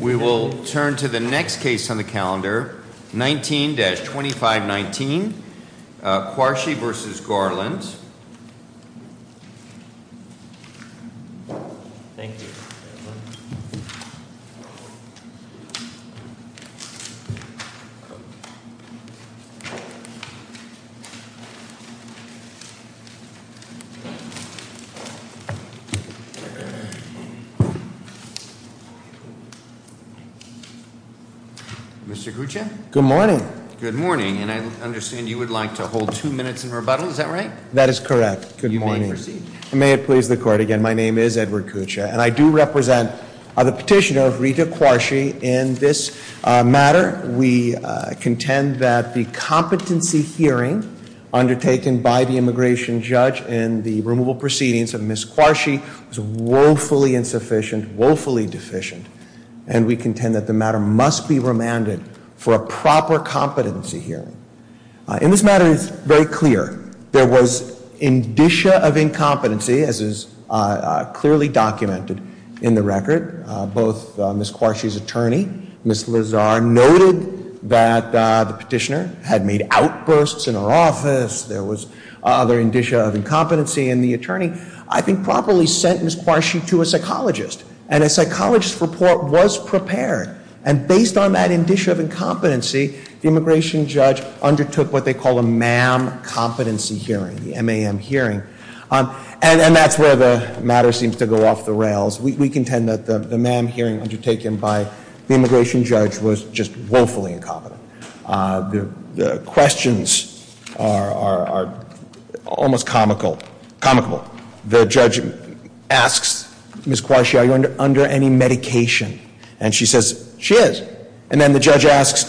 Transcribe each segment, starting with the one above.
We will turn to the next case on the calendar, 19-2519, Quarshie v. Garland. Mr. Kucha? Good morning. Good morning, and I understand you would like to hold two minutes in rebuttal, is that right? That is correct. Good morning. You may proceed. May it please the court again, my name is Edward Kucha, and I do represent the petitioner, Rita Quarshie, in this matter. We contend that the competency hearing undertaken by the immigration judge in the removal proceedings of Ms. Quarshie was woefully insufficient, woefully deficient, and we contend that the matter must be remanded for a proper competency hearing. In this matter, it is very clear there was indicia of incompetency, as is clearly documented in the record. Both Ms. Quarshie's attorney, Ms. Lazar, noted that the petitioner had made outbursts in her office, there was other indicia of incompetency, and the attorney, I think, properly sentenced Ms. Quarshie to a psychologist, and a psychologist's report was prepared, and based on that indicia of incompetency, the immigration judge undertook what they call a MAM competency hearing, the MAM hearing, and that's where the matter seems to go off the rails. We contend that the MAM hearing undertaken by the immigration judge was just woefully incompetent. The questions are almost comical. The judge asks Ms. Quarshie, are you under any medication? And she says, she is. And then the judge asks,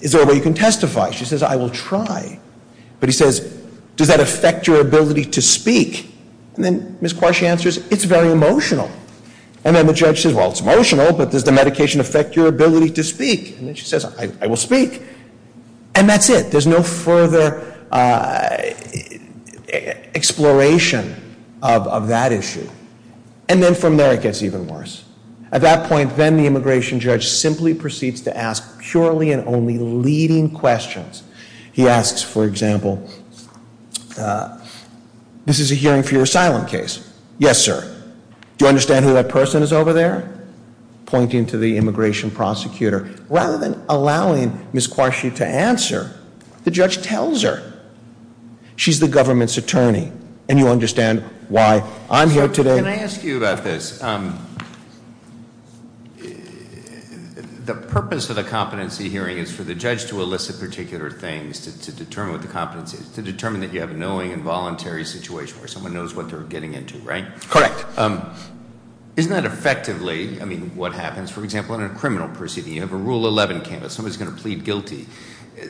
is there a way you can testify? She says, I will try. But he says, does that affect your ability to speak? And then Ms. Quarshie answers, it's very emotional. And then the judge says, well, it's emotional, but does the medication affect your ability to speak? And then she says, I will speak. And that's it. There's no further exploration of that issue. And then from there it gets even worse. At that point, then the immigration judge simply proceeds to ask purely and only leading questions. He asks, for example, this is a hearing for your asylum case. Yes, sir. Do you understand who that person is over there? Pointing to the immigration prosecutor. Rather than allowing Ms. Quarshie to answer, the judge tells her. She's the government's attorney. And you understand why I'm here today. Can I ask you about this? The purpose of the competency hearing is for the judge to elicit particular things to determine what the competency is, to determine that you have a knowing and voluntary situation where someone knows what they're getting into, right? Correct. Isn't that effectively, I mean, what happens, for example, in a criminal proceeding, you have a rule 11 canvas. Somebody's going to plead guilty.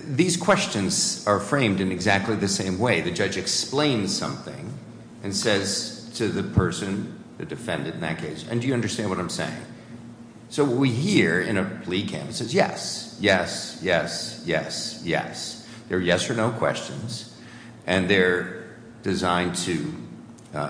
These questions are framed in exactly the same way. The judge explains something and says to the person, the defendant in that case, and do you understand what I'm saying? So what we hear in a plea canvas is yes, yes, yes, yes, yes. They're yes or no questions. And they're designed to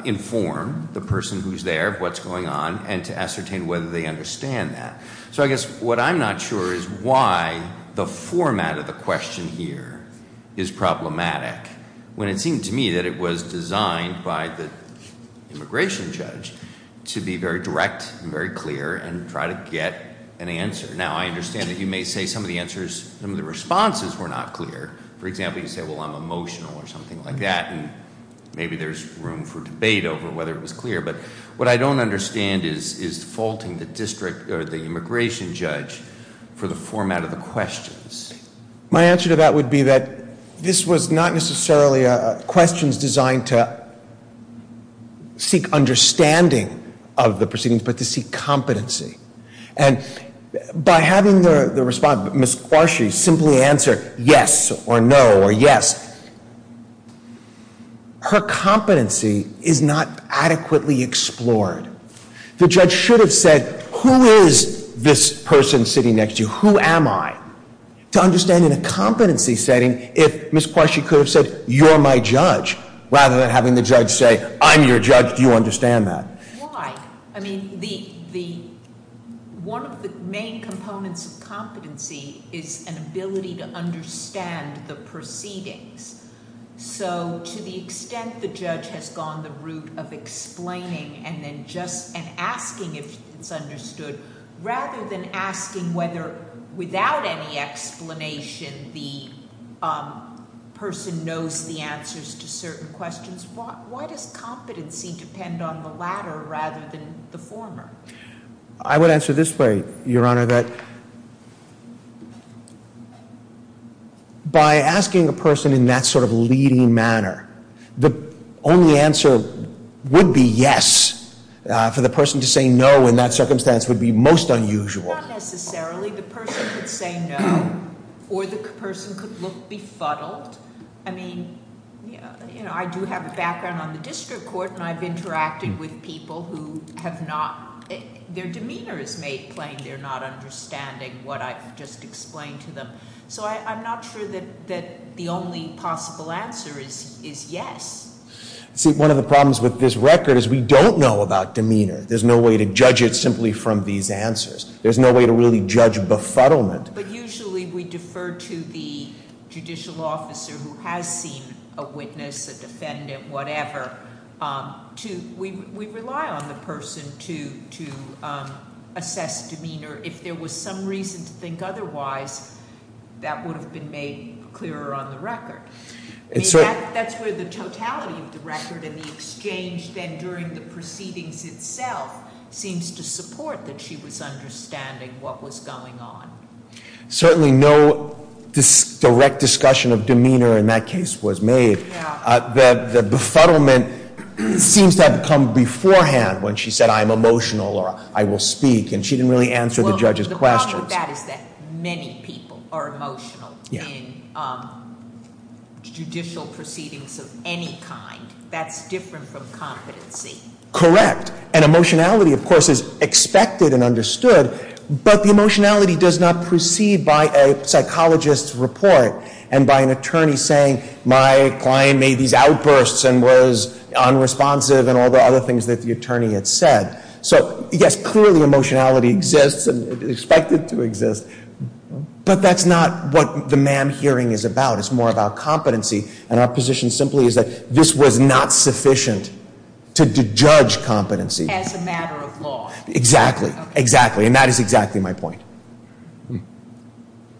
inform the person who's there of what's going on and to ascertain whether they understand that. So I guess what I'm not sure is why the format of the question here is problematic, when it seemed to me that it was designed by the immigration judge to be very direct and very clear and try to get an answer. Now, I understand that you may say some of the answers, some of the responses were not clear. For example, you say, well, I'm emotional or something like that. And maybe there's room for debate over whether it was clear. But what I don't understand is defaulting the district or the immigration judge for the format of the questions. My answer to that would be that this was not necessarily questions designed to seek understanding of the proceedings, but to seek competency. And by having the respondent, Ms. Quarshie, simply answer yes or no or yes, her competency is not adequately explored. The judge should have said, who is this person sitting next to you? Who am I? To understand in a competency setting, if Ms. Quarshie could have said, you're my judge, rather than having the judge say, I'm your judge, do you understand that? Why? I mean, one of the main components of competency is an ability to understand the proceedings. So to the extent the judge has gone the route of explaining and then just asking if it's understood, rather than asking whether without any explanation the person knows the answers to certain questions, why does competency depend on the latter rather than the former? I would answer this way, Your Honor, that by asking a person in that sort of leading manner, the only answer would be yes. For the person to say no in that circumstance would be most unusual. Not necessarily. The person could say no, or the person could look befuddled. I mean, you know, I do have a background on the district court, and I've interacted with people who have not, their demeanor is made plain, they're not understanding what I've just explained to them. So I'm not sure that the only possible answer is yes. See, one of the problems with this record is we don't know about demeanor. There's no way to judge it simply from these answers. There's no way to really judge befuddlement. But usually we defer to the judicial officer who has seen a witness, a defendant, whatever. We rely on the person to assess demeanor. If there was some reason to think otherwise, that would have been made clearer on the record. That's where the totality of the record and the exchange then during the proceedings itself seems to support that she was understanding what was going on. Certainly no direct discussion of demeanor in that case was made. The befuddlement seems to have come beforehand when she said I'm emotional or I will speak, and she didn't really answer the judge's questions. The problem with that is that many people are emotional in judicial proceedings of any kind. That's different from competency. And emotionality, of course, is expected and understood. But the emotionality does not proceed by a psychologist's report and by an attorney saying my client made these outbursts and was unresponsive and all the other things that the attorney had said. So, yes, clearly emotionality exists and is expected to exist. But that's not what the MAM hearing is about. It's more about competency. And our position simply is that this was not sufficient to judge competency. As a matter of law. Exactly. Exactly. And that is exactly my point.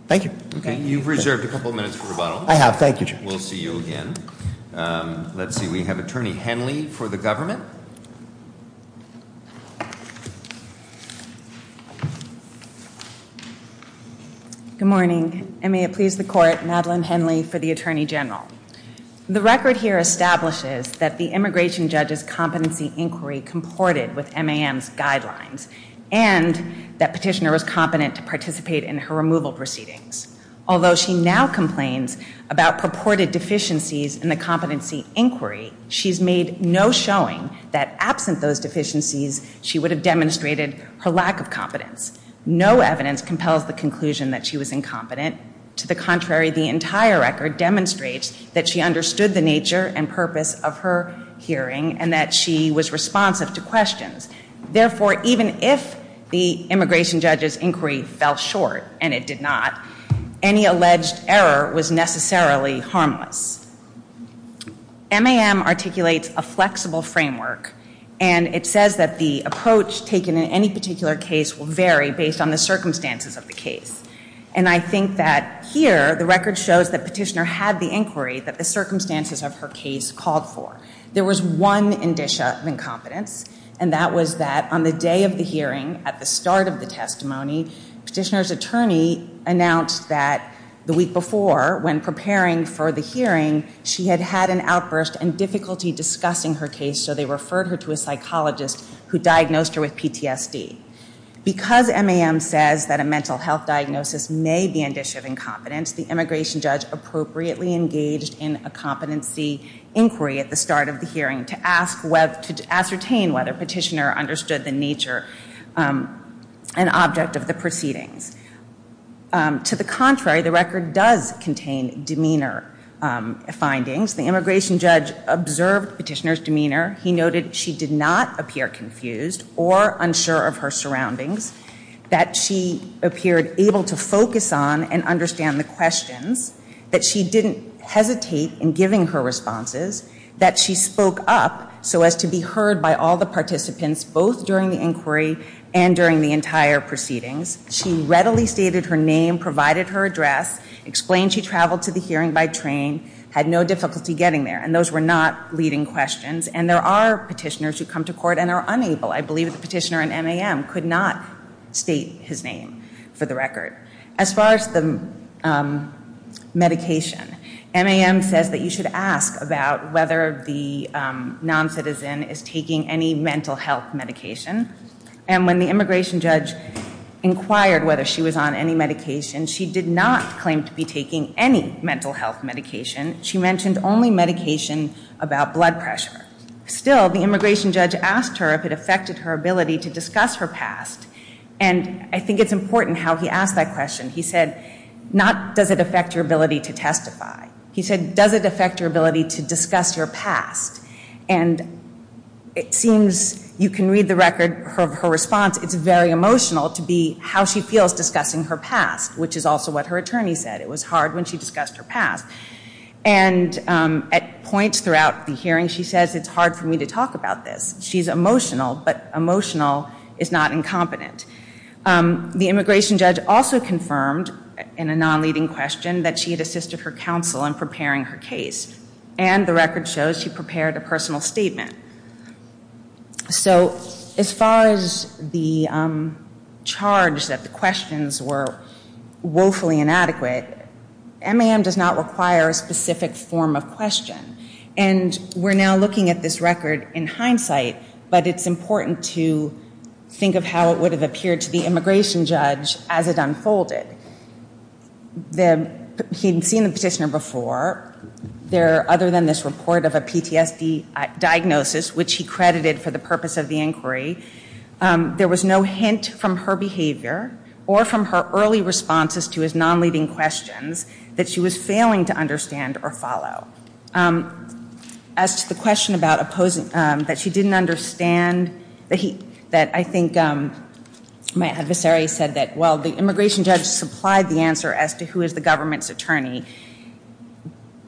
Thank you. Okay. You've reserved a couple minutes for rebuttal. I have. Thank you, Judge. We'll see you again. Let's see. We have Attorney Henley for the government. Good morning. And may it please the court, Madeleine Henley for the Attorney General. The record here establishes that the immigration judge's competency inquiry comported with MAM's guidelines. And that petitioner was competent to participate in her removal proceedings. Although she now complains about purported deficiencies in the competency inquiry, she's made no showing that absent those deficiencies, she would have demonstrated her lack of competence. No evidence compels the conclusion that she was incompetent. To the contrary, the entire record demonstrates that she understood the nature and purpose of her hearing and that she was responsive to questions. Therefore, even if the immigration judge's inquiry fell short, and it did not, any alleged error was necessarily harmless. MAM articulates a flexible framework, and it says that the approach taken in any particular case will vary based on the circumstances of the case. And I think that here, the record shows that petitioner had the inquiry that the circumstances of her case called for. There was one indicia of incompetence, and that was that on the day of the hearing, at the start of the testimony, petitioner's attorney announced that the week before, when preparing for the hearing, she had had an outburst and difficulty discussing her case, so they referred her to a psychologist who diagnosed her with PTSD. Because MAM says that a mental health diagnosis may be an indicia of incompetence, the immigration judge appropriately engaged in a competency inquiry at the start of the hearing to ascertain whether petitioner understood the nature and object of the proceedings. To the contrary, the record does contain demeanor findings. The immigration judge observed petitioner's demeanor. He noted she did not appear confused or unsure of her surroundings, that she appeared able to focus on and understand the questions, that she didn't hesitate in giving her responses, that she spoke up so as to be heard by all the participants, both during the inquiry and during the entire proceedings. She readily stated her name, provided her address, explained she traveled to the hearing by train, had no difficulty getting there, and those were not leading questions. And there are petitioners who come to court and are unable, I believe the petitioner in MAM could not state his name for the record. As far as the medication, MAM says that you should ask about whether the non-citizen is taking any mental health medication. And when the immigration judge inquired whether she was on any medication, she did not claim to be taking any mental health medication. She mentioned only medication about blood pressure. Still, the immigration judge asked her if it affected her ability to discuss her past. And I think it's important how he asked that question. He said, not does it affect your ability to testify. He said, does it affect your ability to discuss your past? And it seems you can read the record of her response. It's very emotional to be how she feels discussing her past, which is also what her attorney said. It was hard when she discussed her past. And at points throughout the hearing, she says it's hard for me to talk about this. She's emotional, but emotional is not incompetent. The immigration judge also confirmed in a non-leading question that she had assisted her counsel in preparing her case. And the record shows she prepared a personal statement. So as far as the charge that the questions were woefully inadequate, MAM does not require a specific form of question. And we're now looking at this record in hindsight, but it's important to think of how it would have appeared to the immigration judge as it unfolded. He had seen the petitioner before. Other than this report of a PTSD diagnosis, which he credited for the purpose of the inquiry, there was no hint from her behavior or from her early responses to his non-leading questions that she was failing to understand or follow. As to the question about opposing, that she didn't understand, that I think my adversary said that while the immigration judge supplied the answer as to who is the government's attorney,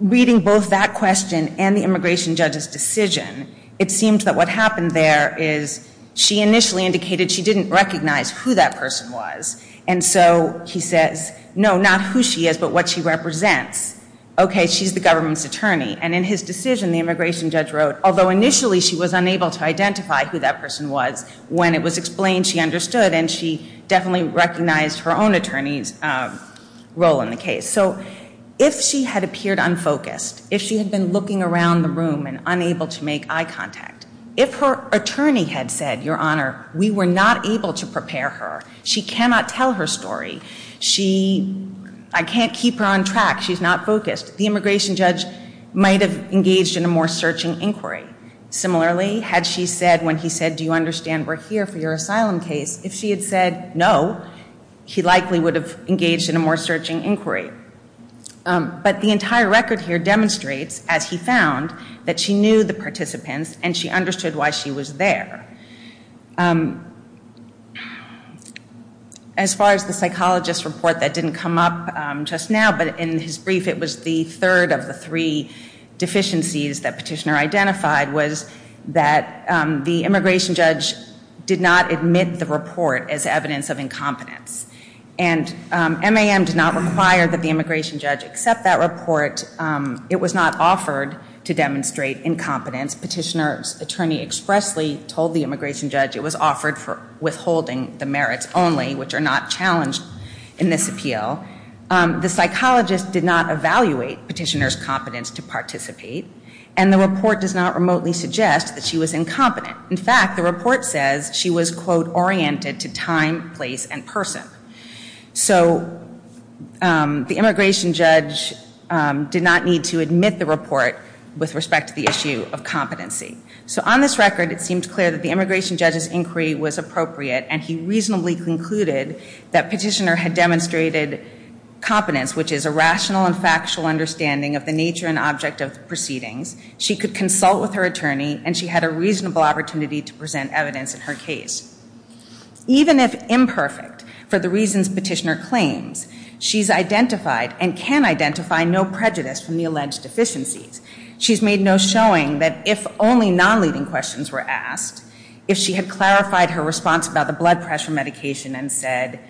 reading both that question and the immigration judge's decision, it seemed that what happened there is she initially indicated she didn't recognize who that person was. And so he says, no, not who she is, but what she represents. Okay, she's the government's attorney. And in his decision, the immigration judge wrote, although initially she was unable to identify who that person was, when it was explained she understood and she definitely recognized her own attorney's role in the case. So if she had appeared unfocused, if she had been looking around the room and unable to make eye contact, if her attorney had said, Your Honor, we were not able to prepare her, she cannot tell her story, I can't keep her on track, she's not focused, the immigration judge might have engaged in a more searching inquiry. Similarly, had she said when he said, do you understand we're here for your asylum case, if she had said no, he likely would have engaged in a more searching inquiry. But the entire record here demonstrates, as he found, that she knew the participants and she understood why she was there. As far as the psychologist report, that didn't come up just now, but in his brief it was the third of the three deficiencies that Petitioner identified, was that the immigration judge did not admit the report as evidence of incompetence. And MAM did not require that the immigration judge accept that report. It was not offered to demonstrate incompetence. Petitioner's attorney expressly told the immigration judge it was offered for withholding the merits only, which are not challenged in this appeal. The psychologist did not evaluate Petitioner's competence to participate, and the report does not remotely suggest that she was incompetent. In fact, the report says she was, quote, oriented to time, place, and person. So the immigration judge did not need to admit the report with respect to the issue of competency. So on this record, it seemed clear that the immigration judge's inquiry was appropriate, and he reasonably concluded that Petitioner had demonstrated competence, which is a rational and factual understanding of the nature and object of proceedings. She could consult with her attorney, and she had a reasonable opportunity to present evidence in her case. Even if imperfect for the reasons Petitioner claims, she's identified and can identify no prejudice from the alleged deficiencies. She's made no showing that if only non-leading questions were asked, if she had clarified her response about the blood pressure medication and said,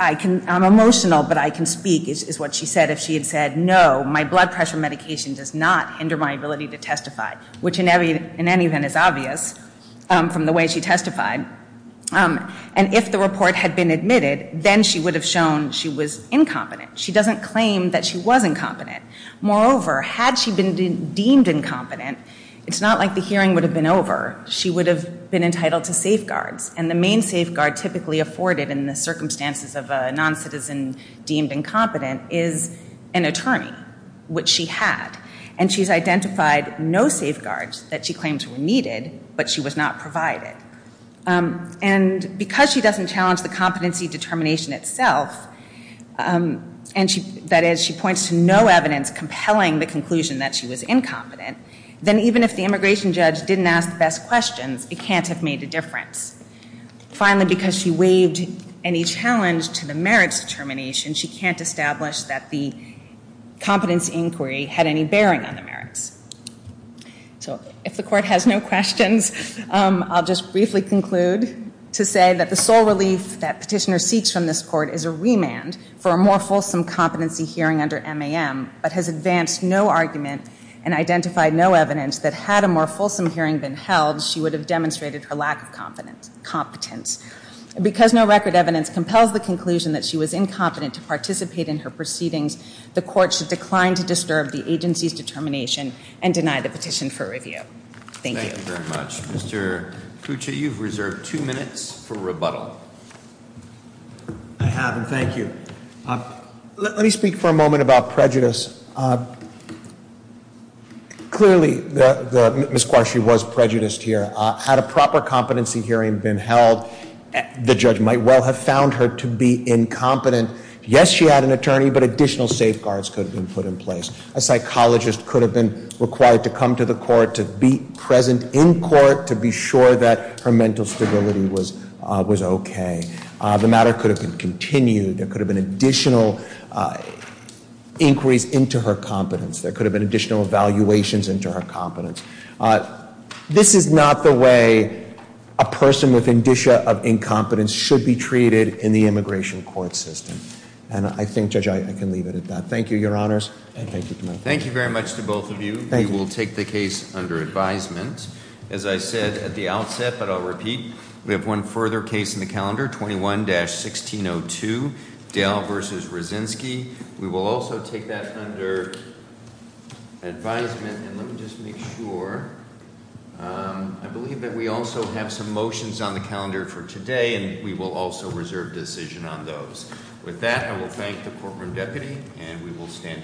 I'm emotional, but I can speak, is what she said, if she had said, no, my blood pressure medication does not hinder my ability to testify, which in any event is obvious from the way she testified. And if the report had been admitted, then she would have shown she was incompetent. She doesn't claim that she was incompetent. Moreover, had she been deemed incompetent, it's not like the hearing would have been over. She would have been entitled to safeguards, and the main safeguard typically afforded in the circumstances of a non-citizen deemed incompetent is an attorney, which she had. And she's identified no safeguards that she claims were needed, but she was not provided. And because she doesn't challenge the competency determination itself, that is, she points to no evidence compelling the conclusion that she was incompetent, then even if the immigration judge didn't ask the best questions, it can't have made a difference. Finally, because she waived any challenge to the merits determination, she can't establish that the competence inquiry had any bearing on the merits. So if the Court has no questions, I'll just briefly conclude to say that the sole relief that Petitioner seeks from this Court is a remand for a more fulsome competency hearing under MAM, but has advanced no argument and identified no evidence that had a more fulsome hearing been held, she would have demonstrated her lack of competence. Because no record evidence compels the conclusion that she was incompetent to participate in her proceedings, the Court should decline to disturb the agency's determination and deny the petition for review. Thank you. Thank you very much. Mr. Kucha, you've reserved two minutes for rebuttal. I have, and thank you. Let me speak for a moment about prejudice. Clearly, Ms. Quarshi was prejudiced here. Had a proper competency hearing been held, the judge might well have found her to be incompetent. Yes, she had an attorney, but additional safeguards could have been put in place. A psychologist could have been required to come to the Court to be present in Court to be sure that her mental stability was okay. The matter could have continued. There could have been additional inquiries into her competence. There could have been additional evaluations into her competence. This is not the way a person with indicia of incompetence should be treated in the immigration court system. And I think, Judge, I can leave it at that. Thank you, Your Honors, and thank you. Thank you very much to both of you. Thank you. We will take the case under advisement. As I said at the outset, but I'll repeat, we have one further case in the calendar, 21-1602, Dale v. Rozinski. We will also take that under advisement, and let me just make sure. I believe that we also have some motions on the calendar for today, and we will also reserve decision on those. With that, I will thank the Courtroom Deputy, and we will stand adjourned.